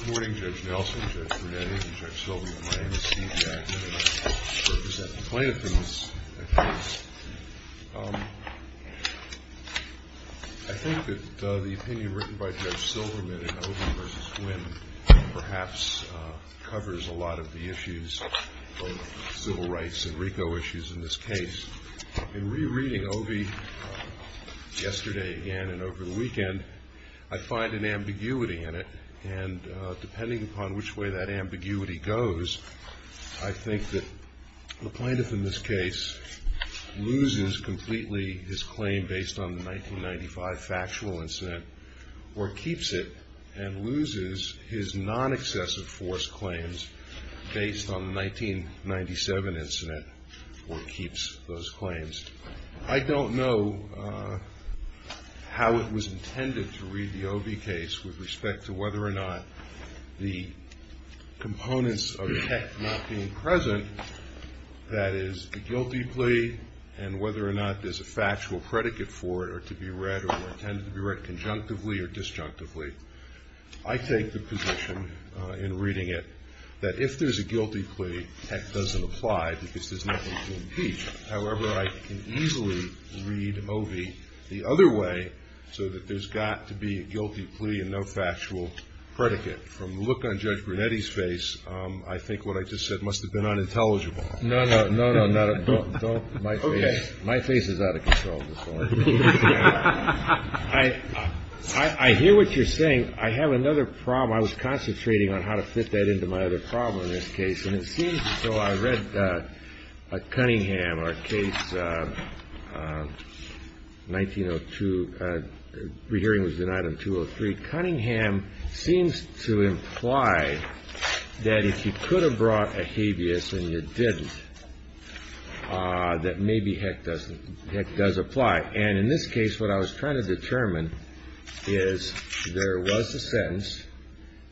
Good morning, Judge Nelson, Judge Brunetti, and Judge Silverman. My name is Steve Jackson, and I'm here to represent the plaintiff in this case. I think that the opinion written by Judge Silverman in Ovi v. Quinn perhaps covers a lot of the issues of civil rights and RICO issues in this case. In rereading Ovi yesterday again and over the weekend, I find an ambiguity in it, and depending upon which way that ambiguity goes, I think that the plaintiff in this case loses completely his claim based on the 1995 factual incident, or keeps it and loses his non-excessive force claims based on the 1997 incident, or keeps those claims. I don't know how it was intended to read the Ovi case with respect to whether or not the components of the text not being present, that is, the guilty plea, and whether or not there's a factual predicate for it to be read or intended to be read conjunctively or disjunctively. I take the position in reading it that if there's a guilty plea, heck, it doesn't apply because there's nothing to impeach. However, I can easily read Ovi the other way so that there's got to be a guilty plea and no factual predicate. From the look on Judge Brunetti's face, I think what I just said must have been unintelligible. No, no, no, no. My face is out of control at this point. I hear what you're saying. I have another problem. I was concentrating on how to fit that into my other problem in this case, and it seems so. I read Cunningham, our case 1902. Rehearing was denied on 203. Cunningham seems to imply that if you could have brought a habeas and you didn't, that maybe heck does apply. And in this case, what I was trying to determine is there was a sentence,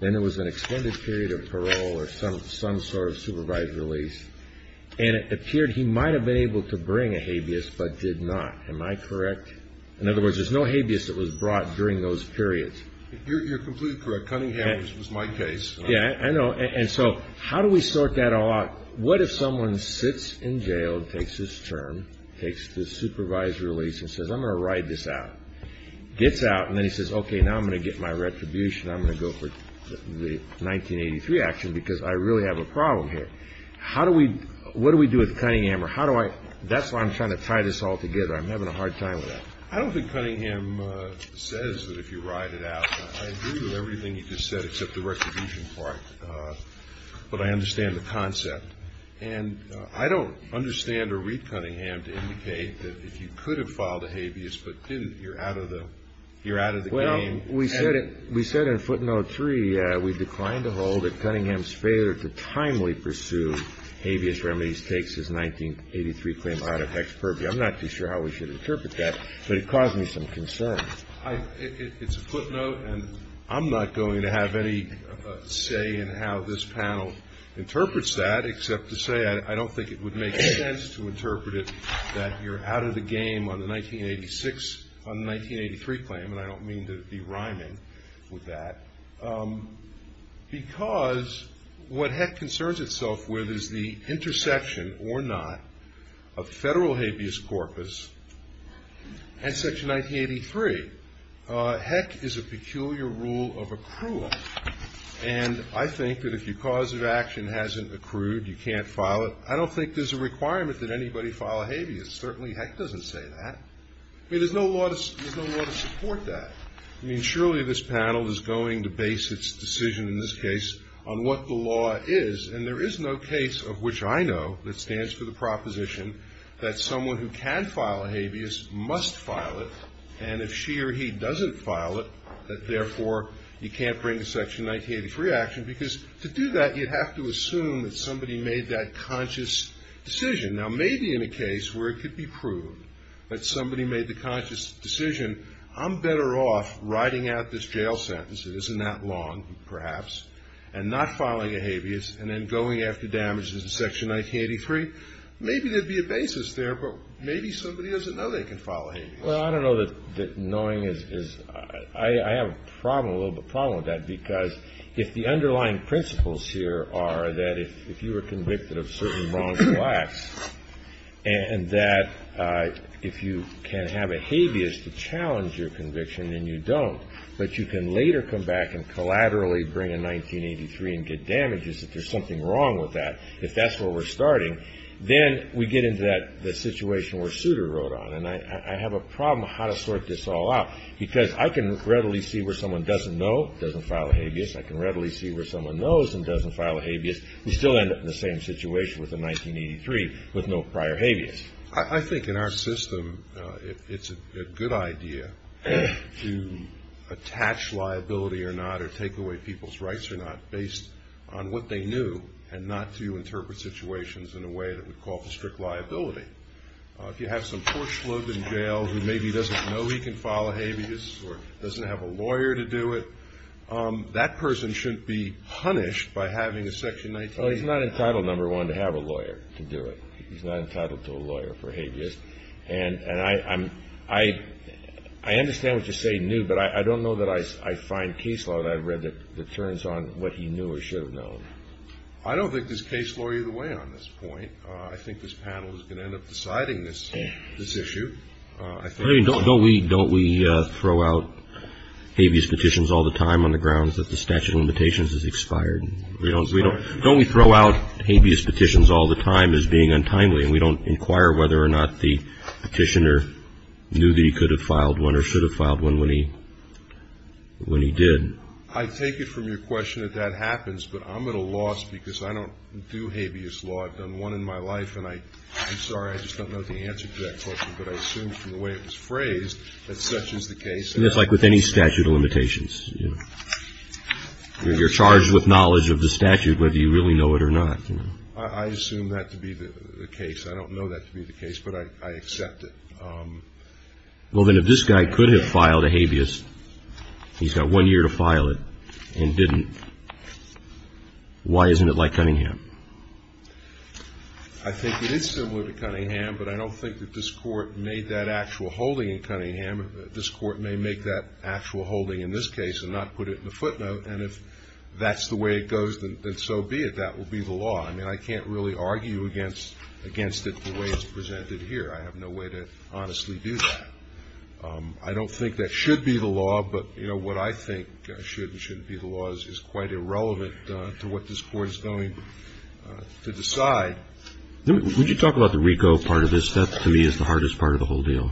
then there was an extended period of parole or some sort of supervised release, and it appeared he might have been able to bring a habeas but did not. Am I correct? In other words, there's no habeas that was brought during those periods. You're completely correct. Cunningham was my case. Yeah, I know. And so how do we sort that all out? What if someone sits in jail, takes his term, takes the supervised release and says, I'm going to ride this out, gets out, and then he says, okay, now I'm going to get my retribution. I'm going to go for the 1983 action because I really have a problem here. How do we – what do we do with Cunningham or how do I – that's why I'm trying to tie this all together. I'm having a hard time with that. I don't think Cunningham says that if you ride it out. I agree with everything you just said except the retribution part, but I understand the concept. And I don't understand or read Cunningham to indicate that if you could have filed a habeas but didn't, you're out of the game. Well, we said in footnote three we declined to hold that Cunningham's failure to timely pursue habeas remedies takes his 1983 claim out of HECS purview. I'm not too sure how we should interpret that, but it caused me some concern. It's a footnote, and I'm not going to have any say in how this panel interprets that except to say I don't think it would make sense to interpret it that you're out of the game on the 1986 – on the 1983 claim, and I don't mean to be rhyming with that, because what HECS concerns itself with is the intersection or not of federal habeas corpus and section 1983. HECS is a peculiar rule of accrual, and I think that if your cause of action hasn't accrued, you can't file it. I don't think there's a requirement that anybody file a habeas. Certainly HECS doesn't say that. I mean, there's no law to support that. I mean, surely this panel is going to base its decision in this case on what the law is, and there is no case of which I know that stands for the proposition that someone who can file a habeas must file it, and if she or he doesn't file it, that therefore you can't bring a section 1983 action, because to do that you'd have to assume that somebody made that conscious decision. Now, maybe in a case where it could be proved that somebody made the conscious decision, I'm better off writing out this jail sentence that isn't that long, perhaps, and not filing a habeas, and then going after damages in section 1983, maybe there'd be a basis there, but maybe somebody doesn't know they can file a habeas. Well, I don't know that knowing is – I have a problem, a little bit of a problem with that, because if the underlying principles here are that if you were convicted of certain wrongful acts and that if you can have a habeas to challenge your conviction and you don't, but you can later come back and collaterally bring in 1983 and get damages if there's something wrong with that, if that's where we're starting, then we get into that situation where Souter wrote on, and I have a problem how to sort this all out, because I can readily see where someone doesn't know, doesn't file a habeas. I can readily see where someone knows and doesn't file a habeas, and still end up in the same situation with a 1983 with no prior habeas. I think in our system it's a good idea to attach liability or not or take away people's rights or not based on what they knew and not to interpret situations in a way that would call for strict liability. If you have some poor slug in jail who maybe doesn't know he can file a habeas or doesn't have a lawyer to do it, that person shouldn't be punished by having a section 1983. Well, he's not entitled, number one, to have a lawyer to do it. He's not entitled to a lawyer for habeas, and I understand what you say, knew, but I don't know that I find case law that I've read that turns on what he knew or should have known. I don't think there's case law either way on this point. I think this panel is going to end up deciding this issue. Don't we throw out habeas petitions all the time on the grounds that the statute of limitations has expired? Don't we throw out habeas petitions all the time as being untimely, and we don't inquire whether or not the petitioner knew that he could have filed one or should have filed one when he did? I take it from your question that that happens, but I'm at a loss because I don't do habeas law. I've done one in my life, and I'm sorry, I just don't know the answer to that question, but I assume from the way it was phrased that such is the case. It's like with any statute of limitations. You're charged with knowledge of the statute whether you really know it or not. I assume that to be the case. I don't know that to be the case, but I accept it. Well, then if this guy could have filed a habeas, he's got one year to file it, and didn't, why isn't it like Cunningham? I think it is similar to Cunningham, but I don't think that this Court made that actual holding in Cunningham. This Court may make that actual holding in this case and not put it in the footnote, and if that's the way it goes, then so be it. That will be the law. I mean, I can't really argue against it the way it's presented here. I have no way to honestly do that. I don't think that should be the law, but, you know, what I think should and shouldn't be the law is quite irrelevant to what this Court is going to decide. Would you talk about the RICO part of this? That, to me, is the hardest part of the whole deal.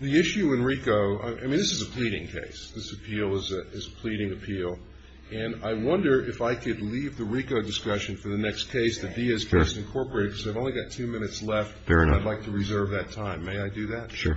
The issue in RICO, I mean, this is a pleading case. This appeal is a pleading appeal, and I wonder if I could leave the RICO discussion for the next case, because I've only got two minutes left, and I'd like to reserve that time. May I do that? Sure.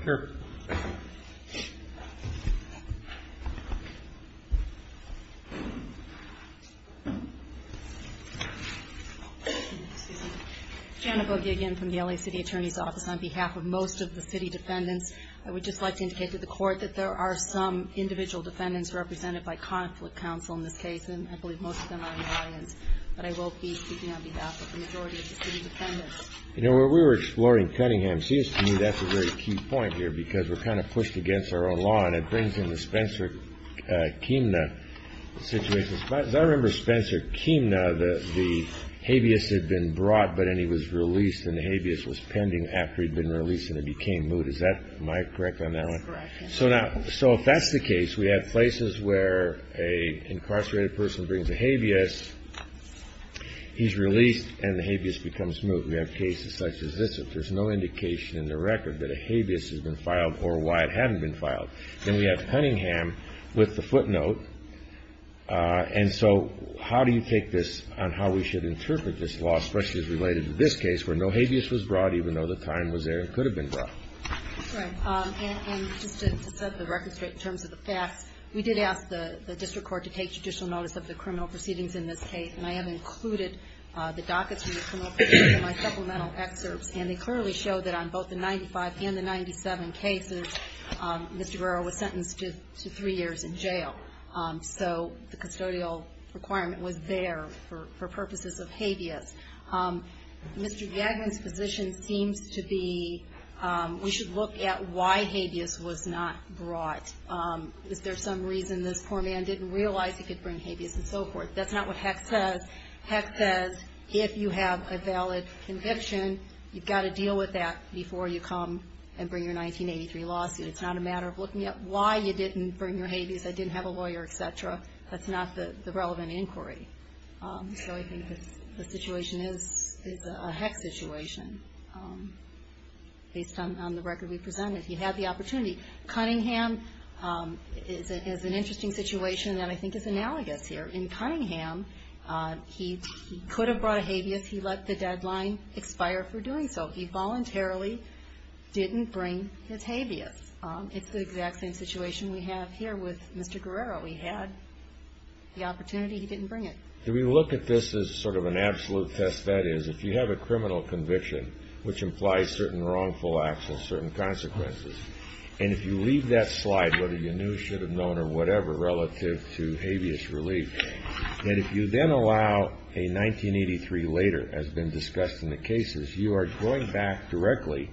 Janet Bogie again from the L.A. City Attorney's Office. On behalf of most of the city defendants, I would just like to indicate to the Court that there are some individual defendants represented by conflict counsel in this case, and I believe most of them are in the audience. But I will be speaking on behalf of the majority of the city defendants. You know, when we were exploring Cunningham, it seems to me that's a very key point here, because we're kind of pushed against our own law, and it brings in the Spencer-Keemner situation. As far as I remember, Spencer-Keemner, the habeas had been brought, but then he was released, and the habeas was pending after he'd been released, and it became moot. Am I correct on that one? That's correct. So if that's the case, we have places where an incarcerated person brings a habeas He's released, and the habeas becomes moot. We have cases such as this. If there's no indication in the record that a habeas has been filed or why it hadn't been filed, then we have Cunningham with the footnote. And so how do you take this on how we should interpret this law, especially as related to this case where no habeas was brought, even though the time was there and could have been brought? That's right. And just to set the record straight in terms of the facts, we did ask the district court to take judicial notice of the criminal proceedings in this case, and I have included the dockets from the criminal proceedings in my supplemental excerpts, and they clearly show that on both the 95 and the 97 cases, Mr. Guerrero was sentenced to three years in jail. So the custodial requirement was there for purposes of habeas. Mr. Yagnan's position seems to be we should look at why habeas was not brought. Is there some reason this poor man didn't realize he could bring habeas and so forth? That's not what HEC says. HEC says if you have a valid conviction, you've got to deal with that before you come and bring your 1983 lawsuit. It's not a matter of looking at why you didn't bring your habeas, I didn't have a lawyer, et cetera. That's not the relevant inquiry. So I think the situation is a HEC situation. Based on the record we presented, he had the opportunity. Cunningham is an interesting situation that I think is analogous here. In Cunningham, he could have brought a habeas, he let the deadline expire for doing so. He voluntarily didn't bring his habeas. It's the exact same situation we have here with Mr. Guerrero. He had the opportunity, he didn't bring it. Do we look at this as sort of an absolute test? That is, if you have a criminal conviction, which implies certain wrongful acts and certain consequences, and if you leave that slide, whether you knew, should have known, or whatever, relative to habeas relief, and if you then allow a 1983 later, as been discussed in the cases, you are going back directly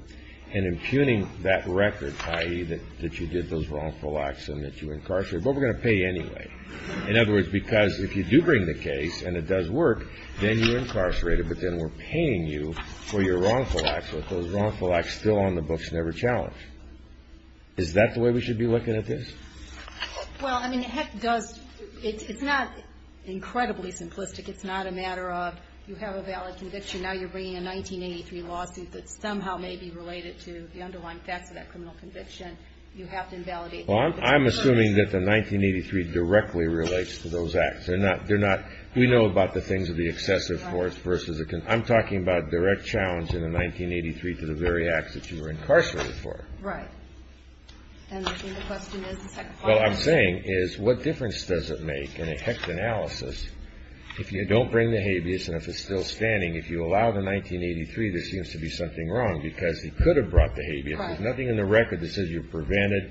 and impugning that record, i.e., that you did those wrongful acts and that you incarcerated, but we're going to pay anyway. In other words, because if you do bring the case and it does work, then you're incarcerated, but then we're paying you for your wrongful acts but those wrongful acts still on the books never challenged. Is that the way we should be looking at this? Well, I mean, it does, it's not incredibly simplistic. It's not a matter of you have a valid conviction, now you're bringing a 1983 lawsuit that somehow may be related to the underlying facts of that criminal conviction. You have to invalidate that. Well, I'm assuming that the 1983 directly relates to those acts. They're not, we know about the things of the excessive force versus, I'm talking about direct challenge in the 1983 to the very acts that you were incarcerated for. Right. And I think the question is the second part. Well, I'm saying is what difference does it make in a HEC analysis if you don't bring the habeas and if it's still standing, if you allow the 1983 there seems to be something wrong because he could have brought the habeas. Right. There's nothing in the record that says you prevented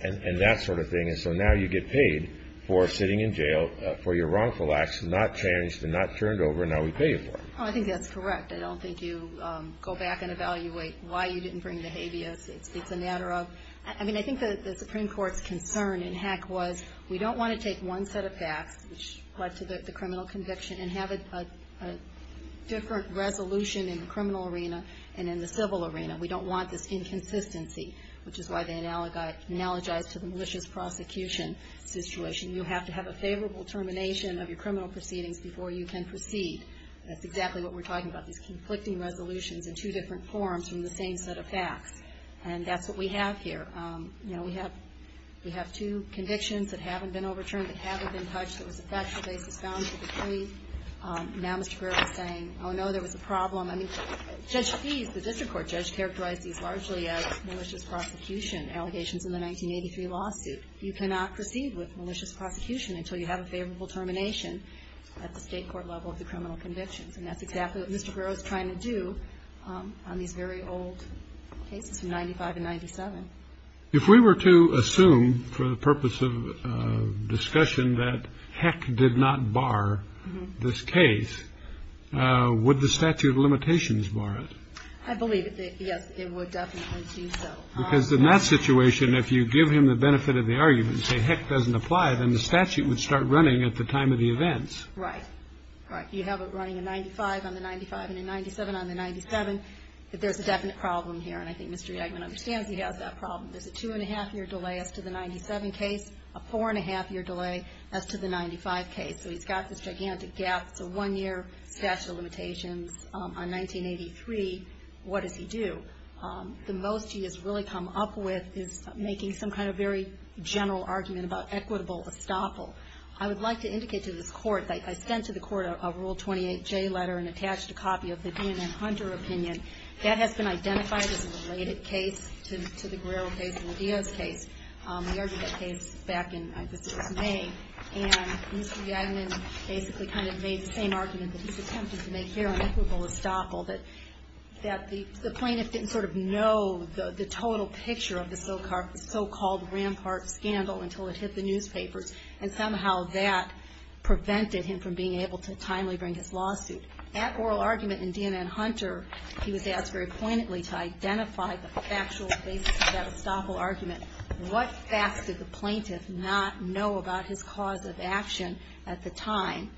and that sort of thing, and so now you get paid for sitting in jail for your wrongful acts not challenged and not turned over and now we pay you for it. Well, I think that's correct. I don't think you go back and evaluate why you didn't bring the habeas. It's a matter of, I mean, I think the Supreme Court's concern in HEC was we don't want to take one set of facts which led to the criminal conviction and have a different resolution in the criminal arena and in the civil arena. We don't want this inconsistency, which is why they analogize to the malicious prosecution situation. You have to have a favorable termination of your criminal proceedings before you can proceed. That's exactly what we're talking about, these conflicting resolutions in two different forms from the same set of facts, and that's what we have here. You know, we have two convictions that haven't been overturned, that haven't been touched. There was a factual basis found for the plea. Now Mr. Brewer is saying, oh, no, there was a problem. I mean, Judge Feese, the district court judge, characterized these largely as malicious prosecution allegations in the 1983 lawsuit. You cannot proceed with malicious prosecution until you have a favorable termination at the state court level of the criminal convictions, and that's exactly what Mr. Brewer is trying to do on these very old cases from 1995 to 1997. If we were to assume for the purpose of discussion that HEC did not bar this case, would the statute of limitations bar it? I believe that, yes, it would definitely do so. Because in that situation, if you give him the benefit of the argument and say HEC doesn't apply, then the statute would start running at the time of the events. Right. Right. You have it running in 95 on the 95 and in 97 on the 97, but there's a definite problem here, and I think Mr. Yegman understands he has that problem. There's a two-and-a-half-year delay as to the 97 case, a four-and-a-half-year delay as to the 95 case. So he's got this gigantic gap. It's a one-year statute of limitations. On 1983, what does he do? The most he has really come up with is making some kind of very general argument about equitable estoppel. I would like to indicate to this Court that I sent to the Court a Rule 28J letter and attached a copy of the DNM-Hunter opinion. That has been identified as a related case to the Guerrero case and the Diaz case, the argument case back in, I guess it was May. And Mr. Yegman basically kind of made the same argument that he's attempting to make here on equitable estoppel, that the plaintiff didn't sort of know the total picture of the so-called Rampart scandal until it hit the newspapers, and somehow that prevented him from being able to timely bring his lawsuit. That oral argument in DNM-Hunter, he was asked very poignantly to identify the factual basis of that estoppel argument. What facts did the plaintiff not know about his cause of action at the time?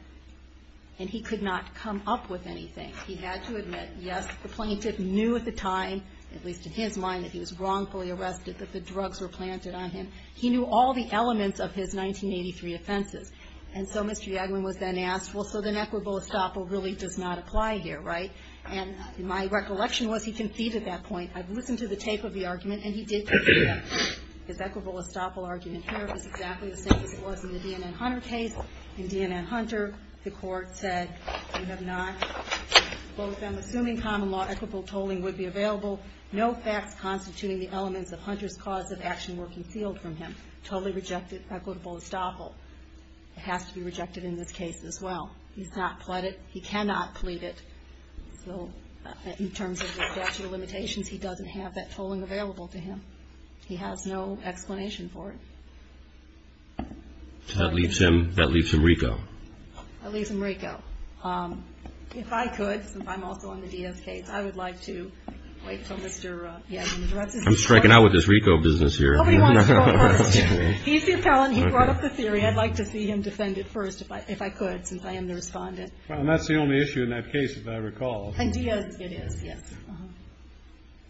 And he could not come up with anything. He had to admit, yes, the plaintiff knew at the time, at least in his mind, that he was wrongfully arrested, that the drugs were planted on him. He knew all the elements of his 1983 offenses. And so Mr. Yegman was then asked, well, so then equitable estoppel really does not apply here, right? And my recollection was he conceded that point. I've listened to the tape of the argument, and he did concede that point. His equitable estoppel argument here was exactly the same as it was in the DNM-Hunter case. In DNM-Hunter, the court said we have not, both them assuming common law, equitable tolling would be available. No facts constituting the elements of Hunter's cause of action were concealed from him. Totally rejected equitable estoppel. It has to be rejected in this case as well. He's not pled it. He cannot plead it. So in terms of the statute of limitations, he doesn't have that tolling available to him. He has no explanation for it. So that leaves him, that leaves him RICO. That leaves him RICO. If I could, since I'm also on the Diaz case, I would like to wait until Mr. Yegman addresses me. I'm striking out with this RICO business here. Nobody wants to talk first. He's the appellant. He brought up the theory. I'd like to see him defend it first, if I could, since I am the respondent. Well, and that's the only issue in that case, as I recall. And Diaz, it is, yes.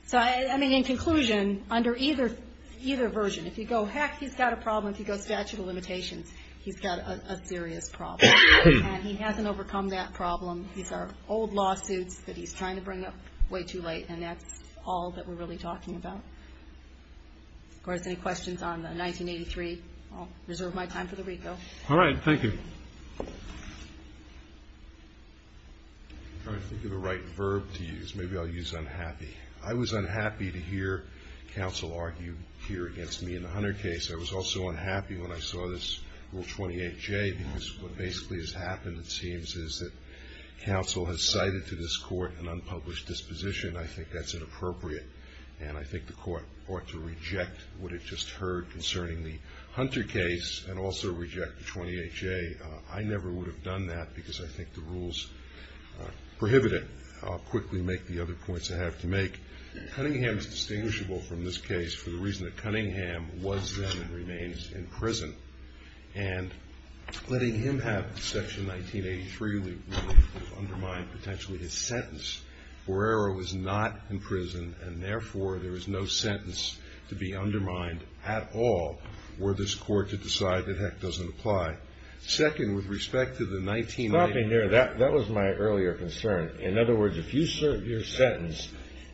So, I mean, in conclusion, under either version, if you go, heck, he's got a problem, if you go statute of limitations, he's got a serious problem. And he hasn't overcome that problem. These are old lawsuits that he's trying to bring up way too late, and that's all that we're really talking about. Of course, any questions on the 1983? I'll reserve my time for the RICO. All right. Thank you. I'm trying to think of the right verb to use. Maybe I'll use unhappy. I was unhappy to hear counsel argue here against me in the Hunter case. I was also unhappy when I saw this Rule 28J, because what basically has happened, it seems, is that counsel has cited to this court an unpublished disposition. I think that's inappropriate, and I think the court ought to reject what it just heard concerning the Hunter case and also reject the 28J. I never would have done that, because I think the rules prohibit it. I'll quickly make the other points I have to make. Cunningham is distinguishable from this case for the reason that Cunningham was then and remains in prison, and letting him have Section 1983 would undermine potentially his sentence. Borrero is not in prison, and, therefore, there is no sentence to be undermined at all were this court to decide that heck doesn't apply. Second, with respect to the 1983. Stopping there. That was my earlier concern. In other words, if you serve your sentence,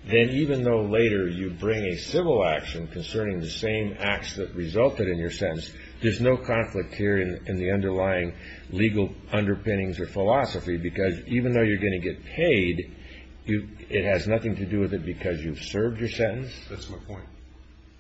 then even though later you bring a civil action concerning the same acts that resulted in your sentence, there's no conflict here in the underlying legal underpinnings or philosophy, because even though you're going to get paid, it has nothing to do with it because you've served your sentence? That's my point.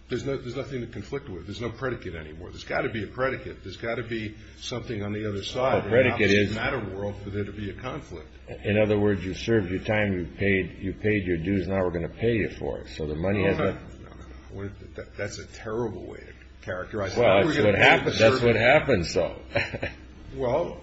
There's nothing to conflict with. There's no predicate anymore. There's got to be a predicate. There's got to be something on the other side. The predicate is? It doesn't matter in the world for there to be a conflict. In other words, you served your time, you paid your dues, and now we're going to pay you for it. No, no. That's a terrible way to characterize it. That's what happens, though. Well,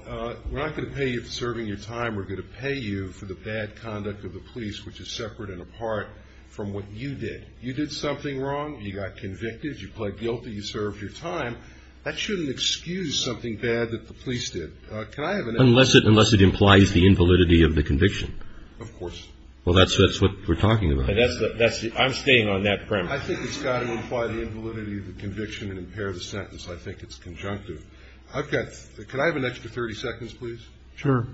we're not going to pay you for serving your time. We're going to pay you for the bad conduct of the police, which is separate and apart from what you did. You did something wrong. You got convicted. You pled guilty. You served your time. That shouldn't excuse something bad that the police did. Can I have an extra 30 seconds? Unless it implies the invalidity of the conviction. Of course. Well, that's what we're talking about. I'm staying on that premise. I think it's got to imply the invalidity of the conviction and impair the sentence. I think it's conjunctive. Can I have an extra 30 seconds, please? Sure.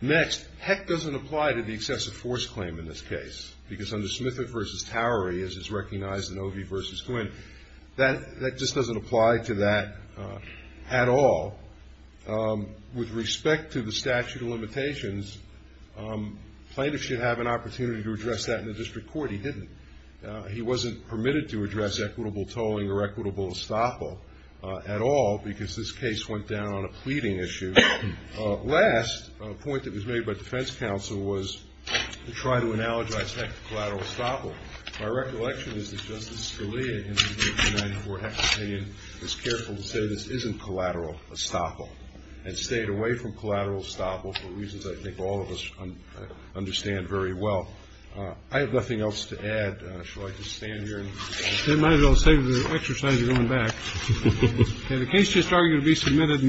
Next, Heck doesn't apply to the excessive force claim in this case, because under Smith v. Towery, as is recognized in Ovi v. Quinn, that just doesn't apply to that at all. With respect to the statute of limitations, plaintiffs should have an opportunity to address that in the district court. He didn't. He wasn't permitted to address equitable tolling or equitable estoppel at all, because this case went down on a pleading issue. Last point that was made by defense counsel was to try to analogize Heck to collateral estoppel. My recollection is that Justice Scalia, in his 1994 hex opinion, was careful to say this isn't collateral estoppel and stayed away from collateral estoppel for reasons I think all of us understand very well. I have nothing else to add. Shall I just stand here? Might as well save the exercise of going back. The case just argued to be submitted.